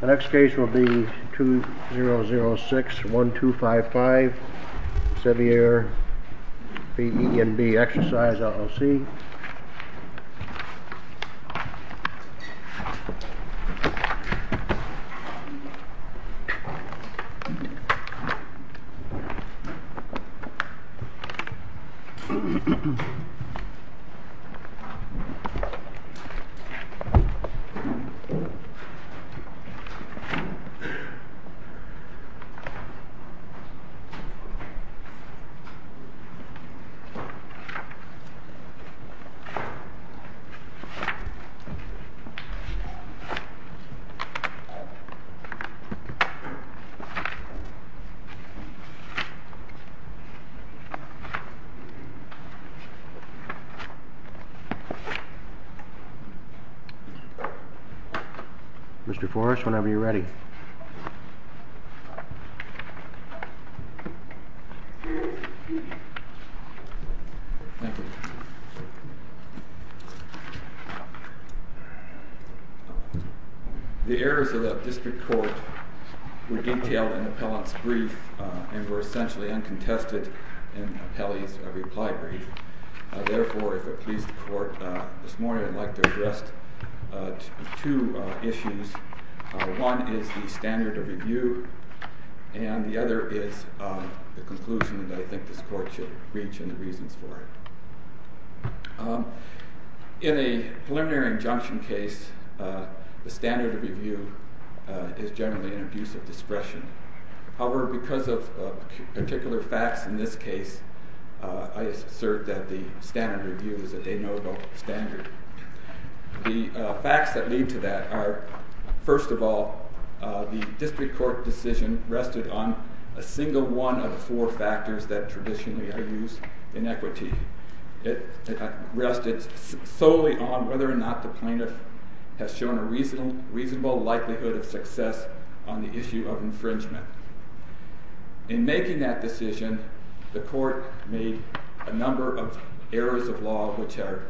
The next case will be 2006-1255 Savvier v. E&B Exercise LLC Savvier v. E&B Exercise LLC Mr. Forrest, whenever you're ready. The errors of the district court were detailed in the appellant's brief and were essentially uncontested in the appellee's reply brief. Therefore, if it please the court, this morning I'd like to address two issues. One is the standard of review and the other is the conclusion that I think this court should reach and the reasons for it. In a preliminary injunction case, the standard of review is generally an abuse of discretion. However, because of particular facts in this case, I assert that the standard of review is a de novo standard. The facts that lead to that are, first of all, the district court decision rested on a single one of four factors that traditionally are used in equity. It rested solely on whether or not the plaintiff has shown a reasonable likelihood of success on the issue of infringement. In making that decision, the court made a number of errors of law which are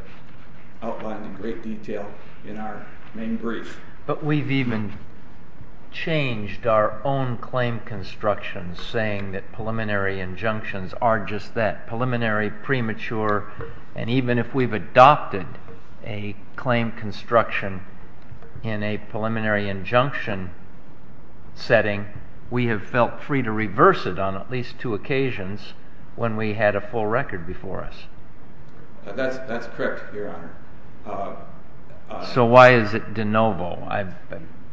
outlined in great detail in our main brief. But we've even changed our own claim construction, saying that preliminary injunctions are just that, preliminary, premature. And even if we've adopted a claim construction in a preliminary injunction setting, we have felt free to reverse it on at least two occasions when we had a full record before us. That's correct, Your Honor. So why is it de novo?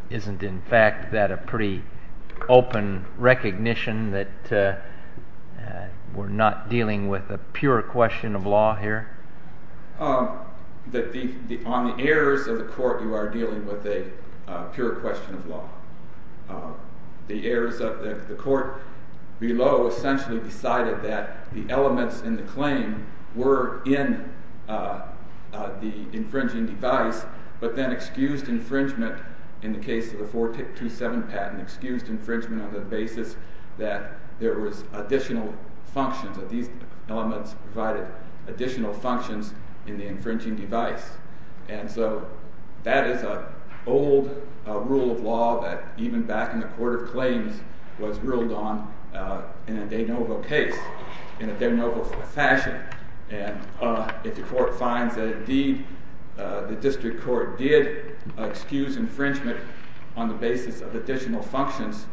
Isn't in fact that a pretty open recognition that we're not dealing with a pure question of law here? On the errors of the court, you are dealing with a pure question of law. The errors of the court below essentially decided that the elements in the claim were in the infringing device, but then excused infringement in the case of the 427 patent, excused infringement on the basis that there was additional functions, that these elements provided additional functions in the infringing device. And so that is an old rule of law that even back in the Court of Claims was ruled on in a de novo case in a de novo fashion. And if the court finds that indeed the district court did excuse infringement on the basis of additional functions,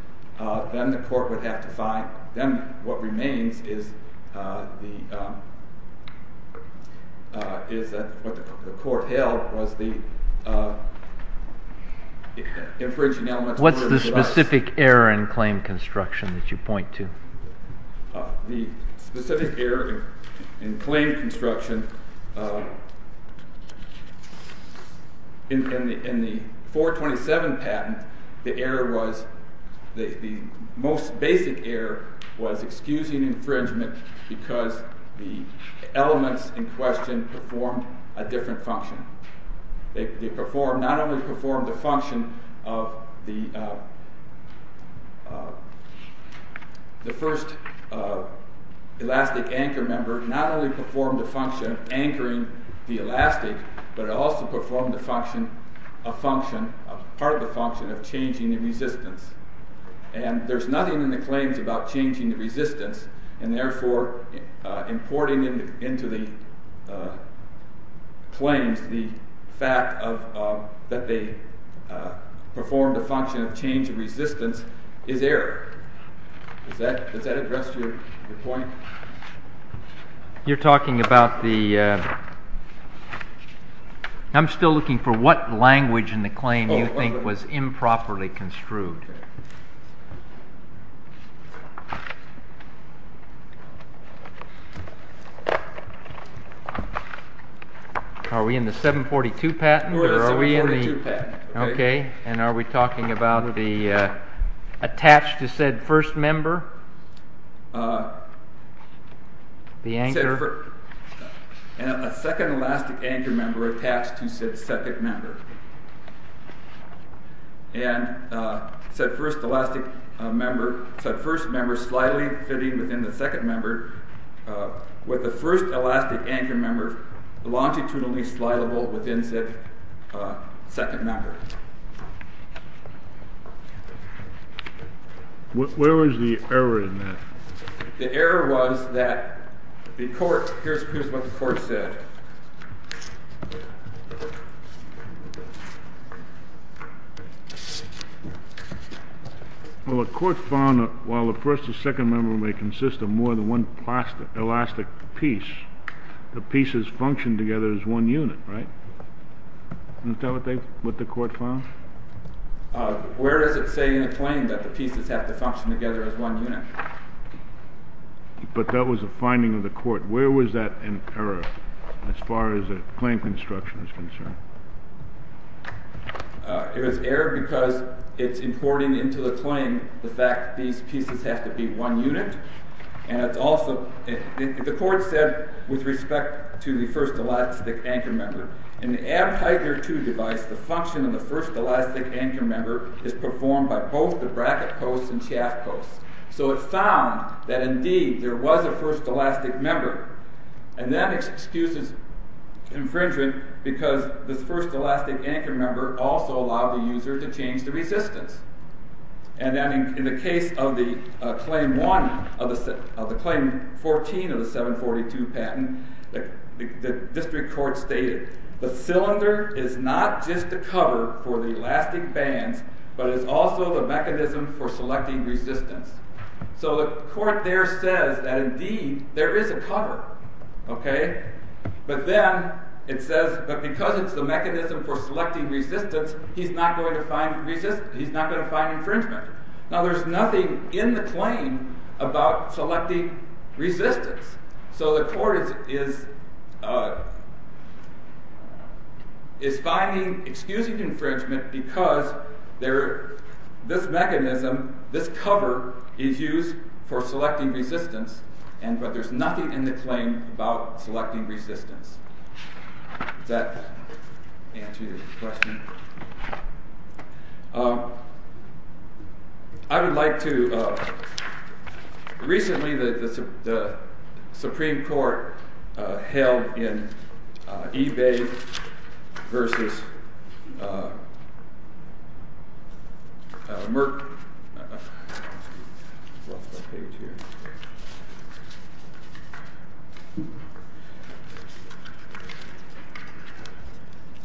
then the court would have to find, then what remains is what the court held was the infringing elements. What's the specific error in claim construction that you point to? The specific error in claim construction in the 427 patent, the error was, the most basic error was excusing infringement because the elements in question performed a different function. They performed, not only performed a function of the first elastic anchor member, not only performed a function of anchoring the elastic, but it also performed a function, part of the function of changing the resistance. And there's nothing in the claims about changing the resistance, and therefore importing into the claims the fact that they performed a function of changing resistance is error. Does that address your point? You're talking about the, I'm still looking for what language in the claim you think was improperly construed. Are we in the 742 patent? We're in the 742 patent. Okay, and are we talking about the attached to said first member? The anchor? A second elastic anchor member attached to said second member. And said first elastic member, said first member slightly fitting within the second member, with the first elastic anchor member longitudinally slidable within said second member. Where was the error in that? The error was that the court, here's what the court said. Well, the court found that while the first and second member may consist of more than one elastic piece, the pieces function together as one unit, right? Isn't that what the court found? Where does it say in the claim that the pieces have to function together as one unit? But that was a finding of the court. Where was that an error as far as the claim construction is concerned? It was error because it's importing into the claim the fact these pieces have to be one unit, and it's also, the court said with respect to the first elastic anchor member, in the Abheidner II device, the function of the first elastic anchor member is performed by both the bracket posts and shaft posts. So it found that indeed there was a first elastic member, and that excuses infringement because this first elastic anchor member also allowed the user to change the resistance. And then in the case of the claim 14 of the 742 patent, the district court stated the cylinder is not just a cover for the elastic bands, but is also the mechanism for selecting resistance. So the court there says that indeed there is a cover, okay? But then it says that because it's the mechanism for selecting resistance, he's not going to find infringement. Now there's nothing in the claim about selecting resistance. So the court is finding, excusing infringement, because this mechanism, this cover, is used for selecting resistance, but there's nothing in the claim about selecting resistance. Does that answer your question? I would like to... Recently the Supreme Court held in eBay versus Merck...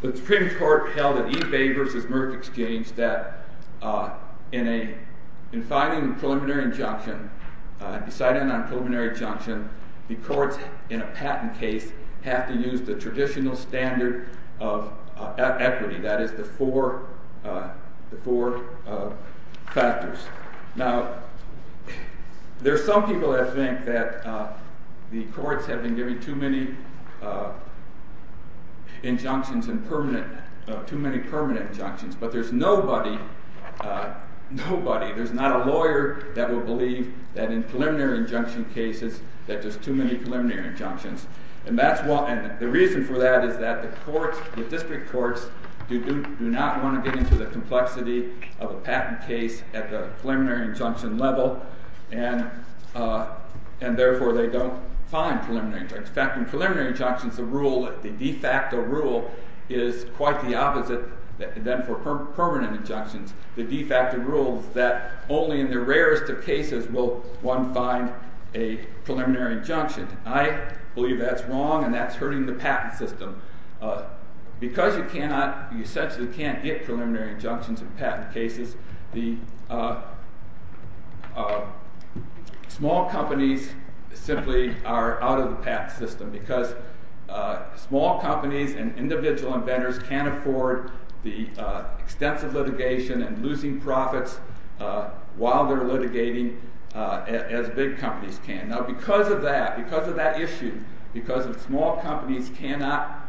The Supreme Court held in eBay versus Merck exchange that in filing a preliminary injunction, deciding on a preliminary injunction, the courts in a patent case have to use the traditional standard of equity, that is the four factors. Now there are some people that think that the courts have been giving too many injunctions, too many permanent injunctions, but there's nobody, nobody, there's not a lawyer that will believe that in preliminary injunction cases that there's too many preliminary injunctions. And the reason for that is that the courts, the district courts, do not want to get into the complexity of a patent case at the preliminary injunction level, and therefore they don't find preliminary injunctions. In fact, in preliminary injunctions the rule, the de facto rule, is quite the opposite than for permanent injunctions. The de facto rule is that only in the rarest of cases will one find a preliminary injunction. I believe that's wrong and that's hurting the patent system. Because you cannot, you essentially can't get preliminary injunctions in patent cases, the small companies simply are out of the patent system because small companies and individual inventors can't afford the extensive litigation and losing profits while they're litigating as big companies can. Now because of that, because of that issue, because small companies cannot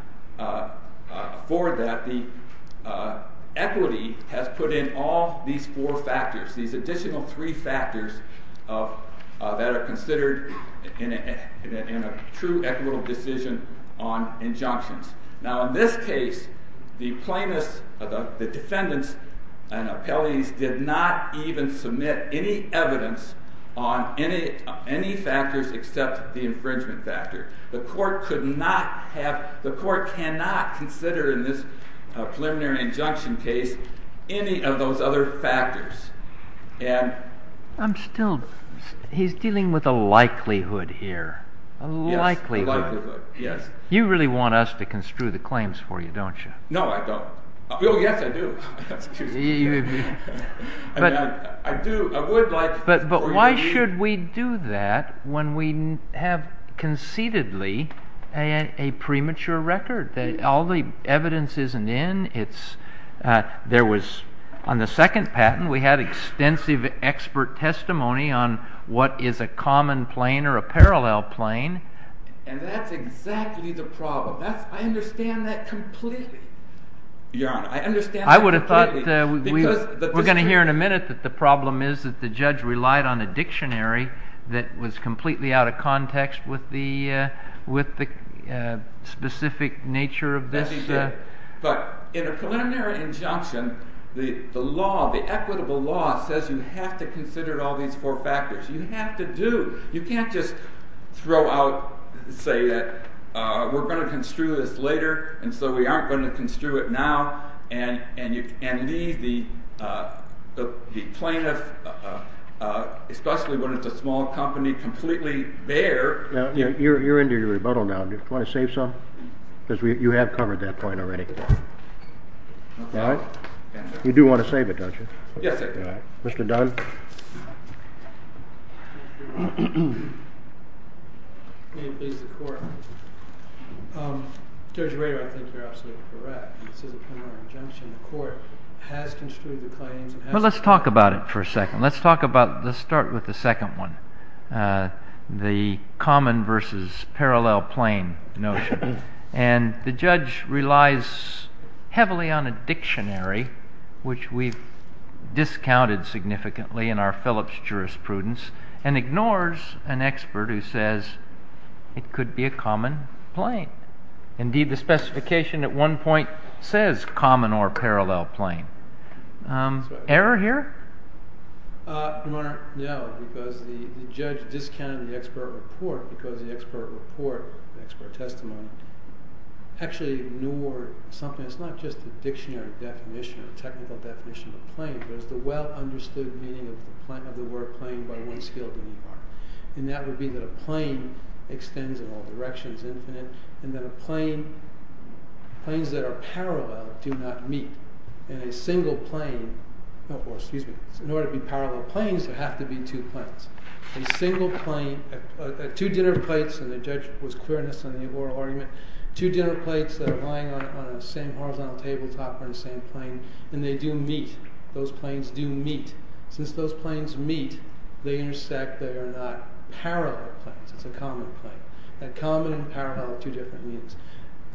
afford that, the equity has put in all these four factors, these additional three factors that are considered in a true equitable decision on injunctions. Now in this case, the plaintiffs, the defendants and appellees did not even submit any evidence on any factors except the infringement factor. The court could not have, the court cannot consider in this preliminary injunction case any of those other factors. I'm still, he's dealing with a likelihood here. Yes, a likelihood, yes. You really want us to construe the claims for you, don't you? No, I don't. Oh yes, I do. I do, I would like for you to do that. But why should we do that when we have concededly a premature record, that all the evidence isn't in, it's, there was, on the second patent, we had extensive expert testimony on what is a common plane or a parallel plane. And that's exactly the problem. I understand that completely. Your Honor, I understand that completely. I would have thought that we were going to hear in a minute that the problem is that the judge relied on a dictionary that was completely out of context with the specific nature of this. But in a preliminary injunction, the law, the equitable law, says you have to consider all these four factors. You have to do. You can't just throw out, say, we're going to construe this later and so we aren't going to construe it now and leave the plaintiff, especially when it's a small company, completely bare. You're into your rebuttal now. Do you want to save some? Because you have covered that point already. You do want to save it, don't you? Yes, I do. Mr. Dunn. Thank you, Your Honor. May it please the Court. Judge Rader, I think you're absolutely correct. This is a preliminary injunction. The Court has construed the claims. Well, let's talk about it for a second. Let's start with the second one, the common versus parallel plane notion. And the judge relies heavily on a dictionary, which we've discounted significantly in our Phillips jurisprudence, and ignores an expert who says it could be a common plane. Indeed, the specification at one point says common or parallel plane. Error here? Your Honor, no, because the judge discounted the expert report because the expert report, the expert testimony, actually ignored something. It's not just the dictionary definition, the technical definition of plane, but it's the well-understood meaning of the word plane by one scale to the R. And that would be that a plane extends in all directions, infinite, and that planes that are parallel do not meet. And a single plane, or excuse me, in order to be parallel planes, there have to be two planes. A single plane, two dinner plates, and the judge was queerness on the oral argument, two dinner plates that are lying on the same horizontal table top are in the same plane, and they do meet. Those planes do meet. Since those planes meet, they intersect. They are not parallel planes. It's a common plane. A common and parallel are two different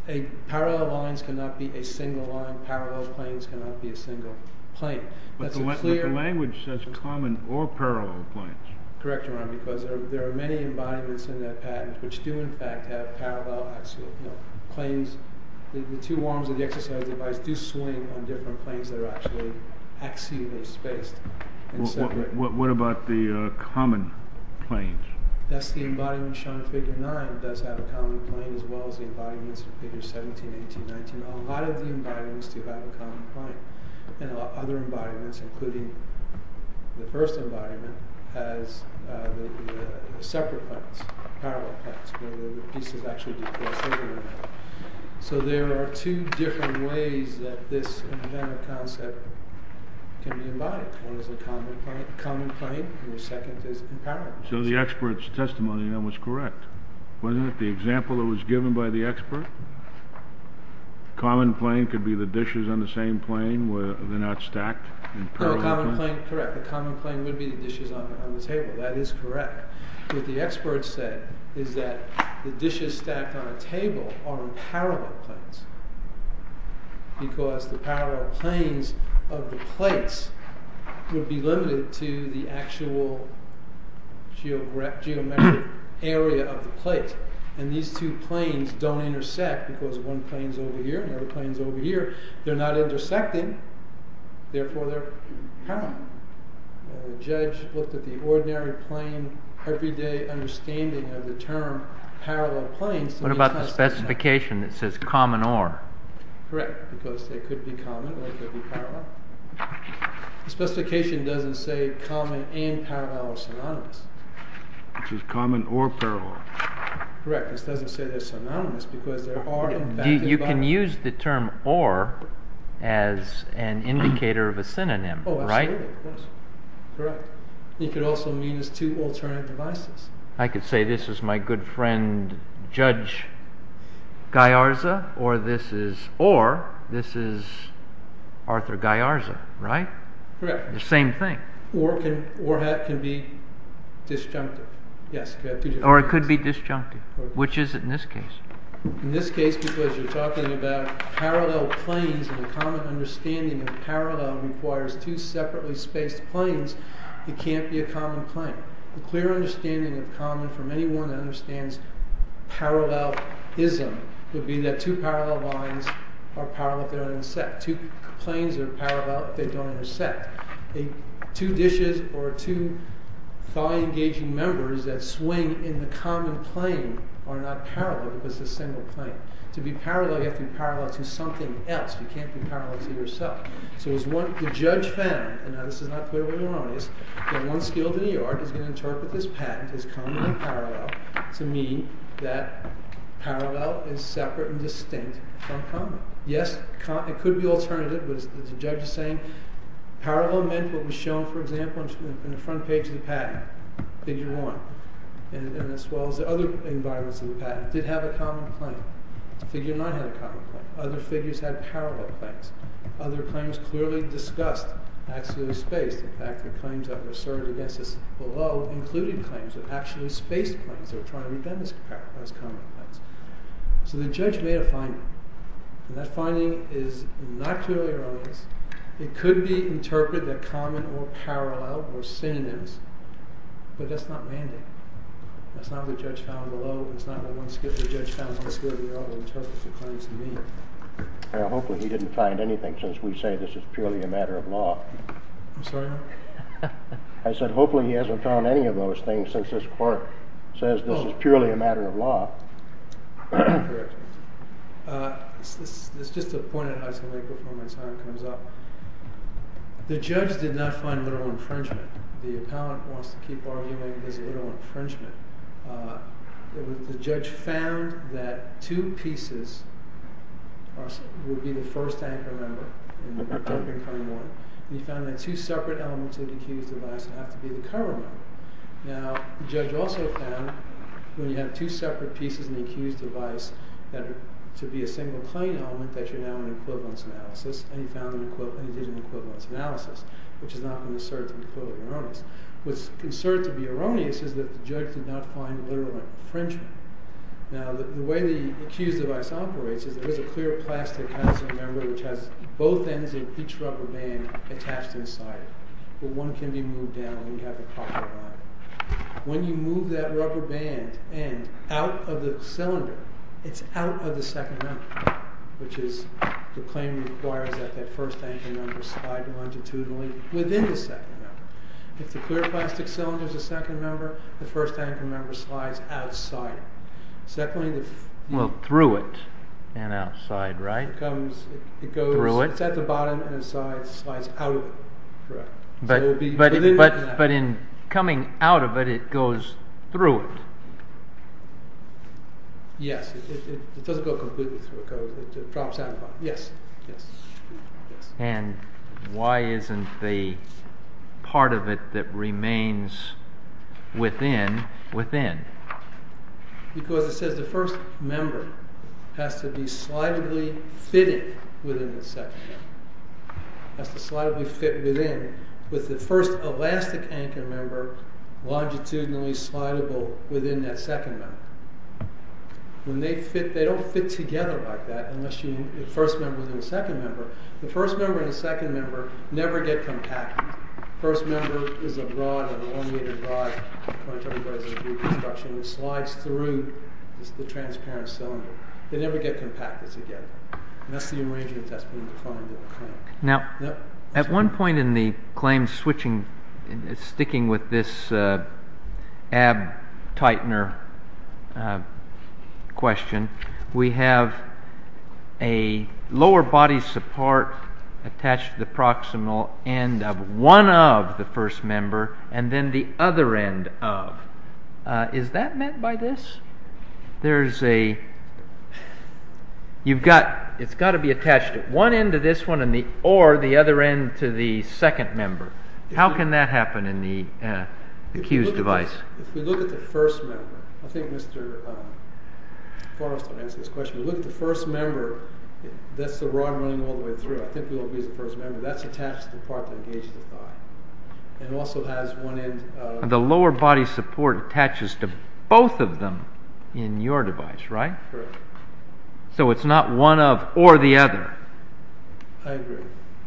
things. Parallel lines cannot be a single line. Parallel planes cannot be a single plane. But the language says common or parallel planes. Correct, Your Honor, because there are many embodiments in that patent which do in fact have parallel axial planes. The two arms of the exercise device do swing on different planes that are actually axially spaced. What about the common planes? That's the embodiment shown in Figure 9 does have a common plane as well as the embodiments in Figure 17, 18, 19. A lot of the embodiments do have a common plane. And other embodiments, including the first embodiment, has separate planes, parallel planes, where the pieces actually do cross over. So there are two different ways that this embedded concept can be embodied. One is a common plane, and the second is a parallel plane. So the expert's testimony then was correct, wasn't it? The example that was given by the expert? Common plane could be the dishes on the same plane. They're not stacked in parallel planes? Correct, the common plane would be the dishes on the table. That is correct. What the expert said is that the dishes stacked on a table are in parallel planes because the parallel planes of the plates would be limited to the actual geometric area of the plates. And these two planes don't intersect because one plane is over here and the other plane is over here. They're not intersecting, therefore they're parallel. The judge looked at the ordinary plane, everyday understanding of the term parallel planes. What about the specification that says common or? Correct, because they could be common or they could be parallel. The specification doesn't say common and parallel are synonymous. Which is common or parallel. Correct, it doesn't say they're synonymous because they are in fact parallel. You can use the term or as an indicator of a synonym, right? Absolutely, correct. You could also mean as two alternate devices. I could say this is my good friend Judge Gajarza or this is Arthur Gajarza, right? Correct. The same thing. Or it could be disjunctive. Or it could be disjunctive. Which is it in this case? In this case because you're talking about parallel planes and a common understanding of parallel requires two separately spaced planes. It can't be a common plane. A clear understanding of common from anyone that understands parallelism would be that two parallel lines are parallel if they don't intersect. Two planes are parallel if they don't intersect. Two dishes or two thigh engaging members that swing in the common plane are not parallel because it's a single plane. To be parallel you have to be parallel to something else. You can't be parallel to yourself. So the judge found, and this is not clear what he wanted, that one skilled in the yard is going to interpret this patent as common or parallel to mean that parallel is separate and distinct from common. Yes, it could be alternative. The judge is saying parallel meant what was shown, for example, in the front page of the patent, figure one. And as well as the other environments of the patent did have a common plane. Figure nine had a common plane. Other figures had parallel planes. Other claims clearly discussed actually spaced. In fact, the claims that were asserted against us below included claims that actually spaced planes that were trying to identify as common planes. So the judge made a finding. And that finding is not clearly released. It could be interpreted that common or parallel or synonyms, but that's not mandate. That's not what the judge found below. It's not what the judge found on the scale of the yard that interprets the claims to mean. Hopefully he didn't find anything since we say this is purely a matter of law. I'm sorry? I said hopefully he hasn't found any of those things since this court says this is purely a matter of law. Correct. This is just a point on how some late performance harm comes up. The judge did not find literal infringement. The appellant wants to keep arguing his literal infringement. The judge found that two pieces would be the first anchor member in the upcoming claim warrant, and he found that two separate elements of the accused device would have to be the cover member. Now the judge also found when you have two separate pieces in the accused device to be a single claim element that you're now in equivalence analysis, and he found that he did an equivalence analysis, which is not going to assert to be totally erroneous. What's asserted to be erroneous is that the judge did not find literal infringement. Now the way the accused device operates is there is a clear plastic housing member which has both ends of each rubber band attached inside it, but one can be moved down when you have the proper body. When you move that rubber band end out of the cylinder, it's out of the second anchor, which is the claim requires that the first anchor member slide longitudinally within the second member. If the clear plastic cylinder is the second member, the first anchor member slides outside. Secondly, the… Well, through it and outside, right? It goes… Through it? It's at the bottom and inside. It slides out of it. Correct. But in coming out of it, it goes through it. Yes. It doesn't go completely through it. It drops out of it. Yes. Yes. And why isn't the part of it that remains within, within? Because it says the first member has to be slidably fitted within the second member. It has to slidably fit within with the first elastic anchor member and be longitudinally slidable within that second member. When they fit, they don't fit together like that unless the first member is in the second member. The first member and the second member never get compacted. The first member is a rod, an elongated rod, which slides through the transparent cylinder. They never get compacted together. And that's the arrangement that's been defined in the claim. Now, at one point in the claim sticking with this ab-tightener question, we have a lower body support attached to the proximal end of one of the first member and then the other end of. Is that meant by this? There's a... You've got... It's got to be attached at one end to this one or the other end to the second member. How can that happen in the Q's device? If we look at the first member... I think Mr. Forrest will answer this question. If we look at the first member, that's the rod running all the way through. I think it will be the first member. That's attached to the part that engages the thigh. It also has one end... The lower body support attaches to both of them in your device, right? Correct. So it's not one of or the other. I agree.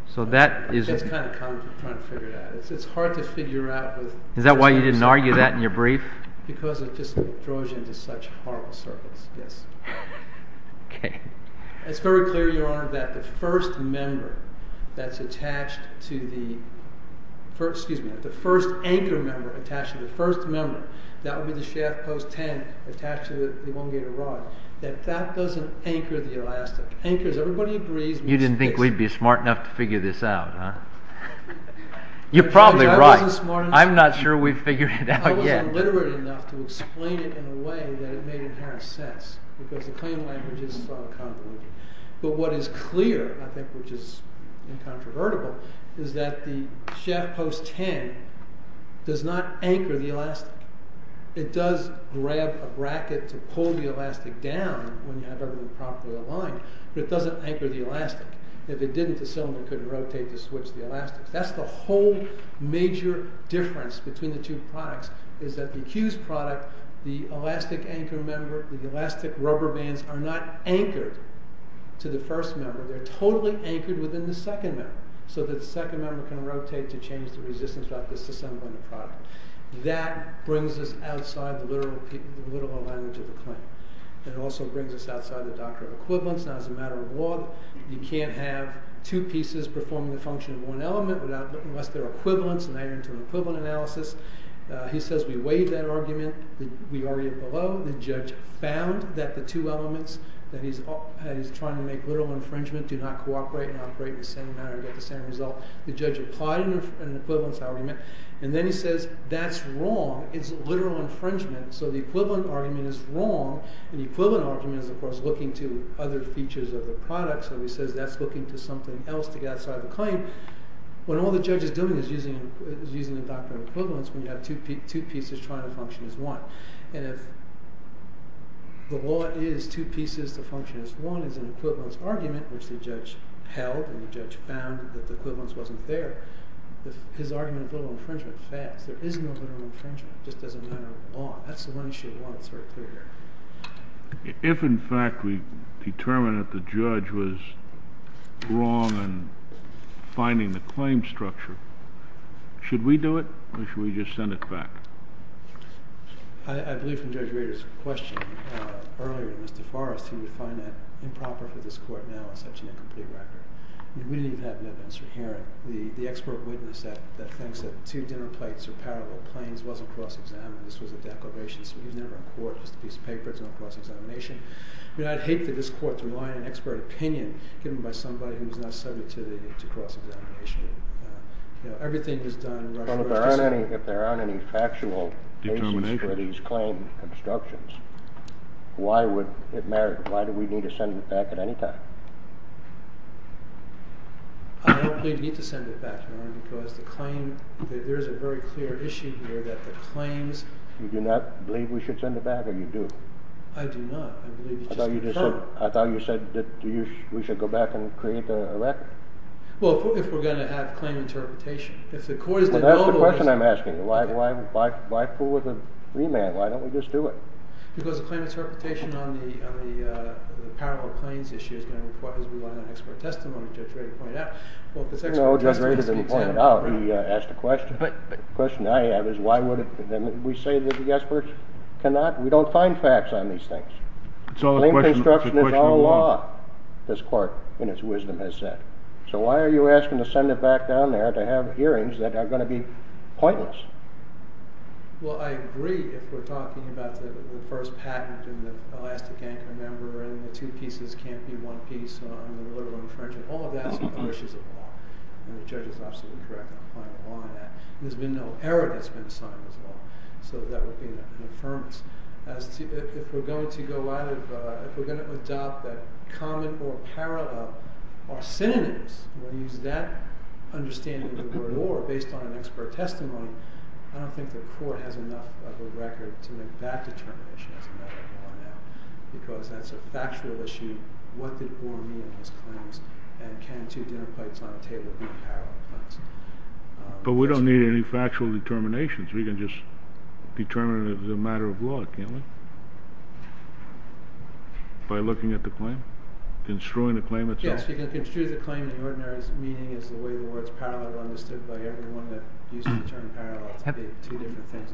So that is... That's kind of complicated. I'm trying to figure it out. It's hard to figure out with... Is that why you didn't argue that in your brief? Because it just throws you into such horrible circles, yes. Okay. It's very clear, Your Honor, that the first member that's attached to the... Excuse me. The first anchor member attached to the first member. That would be the shaft post 10 attached to the elongated rod. That that doesn't anchor the elastic. Anchors... Everybody agrees... You didn't think we'd be smart enough to figure this out, huh? You're probably right. I wasn't smart enough. I'm not sure we've figured it out yet. I wasn't literate enough to explain it in a way that it made inherent sense. Because the claim language is... But what is clear, I think, which is incontrovertible, is that the shaft post 10 does not anchor the elastic. It does grab a bracket to pull the elastic down when you have everything properly aligned. But it doesn't anchor the elastic. If it didn't, the cylinder couldn't rotate to switch the elastic. That's the whole major difference between the two products, is that the Hughes product, the elastic anchor member, the elastic rubber bands are not anchored to the first member. They're totally anchored within the second member. So that the second member can rotate to change the resistance about disassembling the product. That brings us outside the literal language of the claim. It also brings us outside the doctrine of equivalence. Now, as a matter of law, you can't have two pieces performing the function of one element unless they're equivalents and they enter into an equivalent analysis. He says we weighed that argument. We argue below the judge found that the two elements that he's trying to make literal infringement do not cooperate and operate in the same manner and get the same result. The judge applied an equivalence argument. And then he says that's wrong. It's literal infringement. So the equivalent argument is wrong. And the equivalent argument is, of course, looking to other features of the product. So he says that's looking to something else to get outside of the claim. When all the judge is doing is using the doctrine of equivalence when you have two pieces trying to function as one. And if the law is two pieces to function as one as an equivalence argument, which the judge held and the judge found that the equivalence wasn't there, his argument of literal infringement fails. There is no literal infringement. It just doesn't matter in law. That's the one issue of law that's very clear here. If, in fact, we determine that the judge was wrong in finding the claim structure, should we do it or should we just send it back? I believe from Judge Rader's question earlier, Mr. Forrest, he would find that improper for this court now in such an incomplete record. We didn't have evidence here. The expert witness that thinks that two dinner plates are parallel planes wasn't cross-examined. This was a declaration. So he was never in court. It was just a piece of paper. It's not cross-examination. I'd hate for this court to rely on an expert opinion given by somebody who's not subject to cross-examination. Everything he's done in Rushmore's history. Well, if there aren't any factual reasons for these claim obstructions, why would it matter? Why do we need to send it back at any time? I don't believe we need to send it back, Your Honor, because the claim, there's a very clear issue here that the claims. You do not believe we should send it back? Or you do? I do not. I believe you just confirmed it. I thought you said that we should go back and create a record. Well, if we're going to have claim interpretation. If the court is going to know the reason. Well, that's the question I'm asking. Why fool with a free man? Why don't we just do it? Because the claim interpretation on the parallel claims issue is going to require an expert testimony, Judge Rady pointed out. Well, if it's expert testimony. No, Judge Rady didn't point it out. He asked a question. The question I have is, why would it? We say that the experts cannot, we don't find facts on these things. It's all a question of the law, this court, and its wisdom has said. So why are you asking to send it back down there to have hearings that are going to be pointless? Well, I agree. If we're talking about the first patent and the elastic anchor member and the two pieces can't be one piece on the liberal infringement, all of that's an issue of law. And the judge is absolutely correct in applying the law on that. There's been no error that's been signed as well. So that would be an affirmance. If we're going to adopt that common or parallel or synonyms, we'll use that understanding of the word or based on an expert testimony. I don't think the court has enough of a record to make that determination as a matter of law now. Because that's a factual issue. What did war mean in those claims? And can two dinner plates on a table be parallel claims? But we don't need any factual determinations. We can just determine it as a matter of law, can't we? By looking at the claim? Construing the claim itself? Yes, you can construe the claim in the ordinary meaning as the way the words parallel are understood by everyone that used the term parallel to be two different things.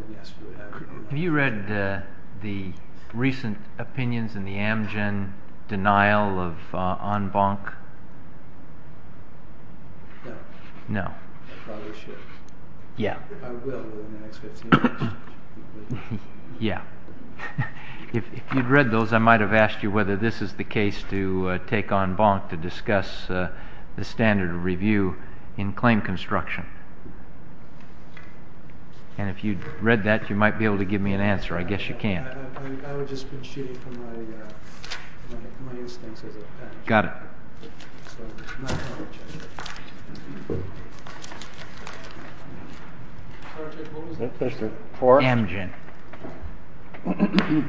Have you read the recent opinions in the Amgen denial of en banc? No. No. I probably should. Yeah. I will in the next 15 minutes. Yeah. If you'd read those, I might have asked you whether this is the case to take en banc to discuss the standard of review in claim construction. And if you'd read that, you might be able to give me an answer. I guess you can. I would just be cheating from my instincts as a patent attorney. Got it. So my apologies. What was the question? For Amgen. I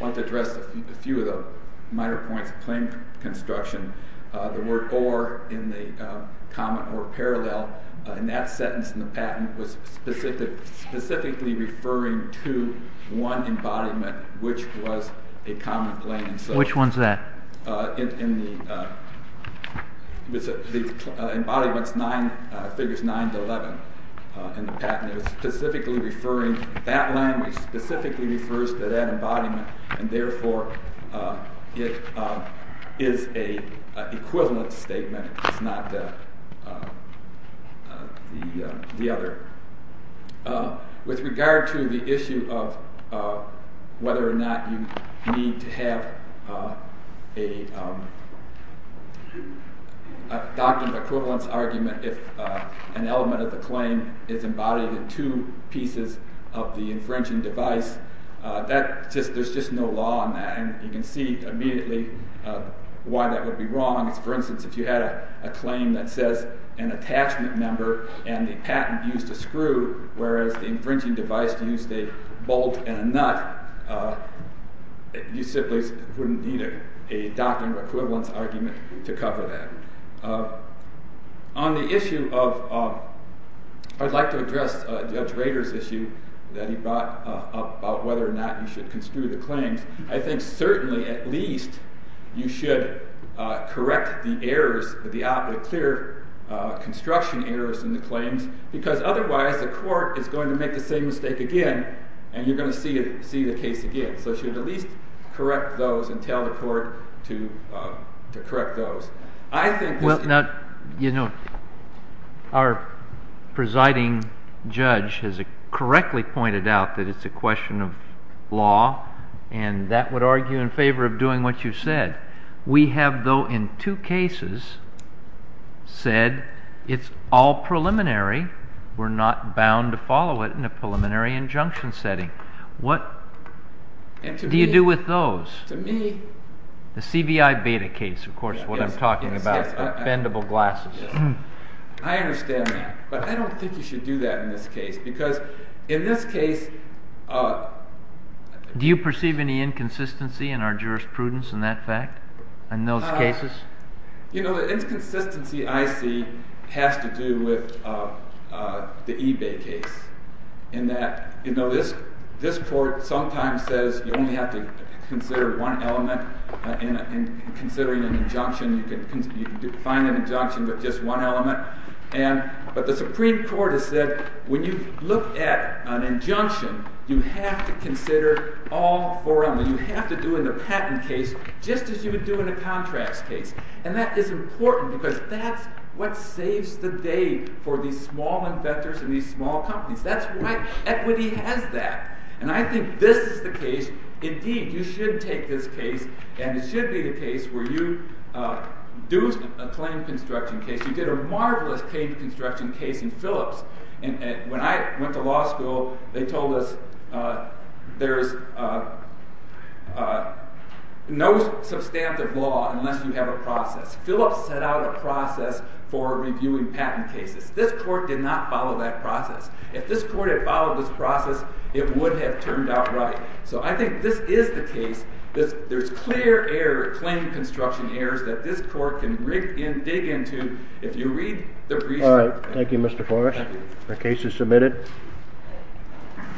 want to address a few of the minor points about the standard of claim construction. The word or in the common or parallel, in that sentence in the patent, was specifically referring to one embodiment, which was a common claim. Which one's that? The embodiment's figures 9 to 11 in the patent. It was specifically referring, that language specifically refers to that embodiment, and therefore it is a equivalent statement. It's not the other. With regard to the issue of whether or not you need to have a document equivalence argument if an element of the claim is embodied in two pieces of the infringing device, there's just no law on that. You can see immediately why that would be wrong. For instance, if you had a claim that says an attachment member and the patent used a screw, whereas the infringing device used a bolt and a nut, you simply wouldn't need a document equivalence argument to cover that. On the issue of, I'd like to address Judge Rader's issue that he brought up about whether or not you should construe the claims, I think certainly at least you should correct the errors, the aptly clear construction errors in the claims, because otherwise the court is going to make the same mistake again, and you're going to see the case again. So you should at least correct those and tell the court to correct those. Our presiding judge has correctly pointed out that it's a question of law, and that would argue in favor of doing what you said. We have, though, in two cases, said it's all preliminary, we're not bound to follow it in a preliminary injunction setting. What do you do with those? The CBI Beta case, of course, what I'm talking about, bendable glasses. I understand that, but I don't think you should do that in this case, because in this case... Do you perceive any inconsistency in our jurisprudence in that fact, in those cases? You know, the inconsistency I see has to do with the eBay case, in that this court sometimes says you only have to consider one element in considering an injunction. You can find an injunction with just one element. But the Supreme Court has said when you look at an injunction, you have to consider all four elements. You have to do in a patent case just as you would do in a contracts case. And that is important, because that's what saves the day for these small inventors and these small companies. That's why equity has that. And I think this is the case... Indeed, you should take this case, and it should be the case where you do a claim construction case. You did a marvelous claim construction case in Phillips. When I went to law school, they told us there's no substantive law unless you have a process. Phillips set out a process for reviewing patent cases. This court did not follow that process. If this court had followed this process, it would have turned out right. So I think this is the case. There's clear claim construction errors that this court can dig into if you read the brief... All right. Thank you, Mr. Foresh. The case is submitted.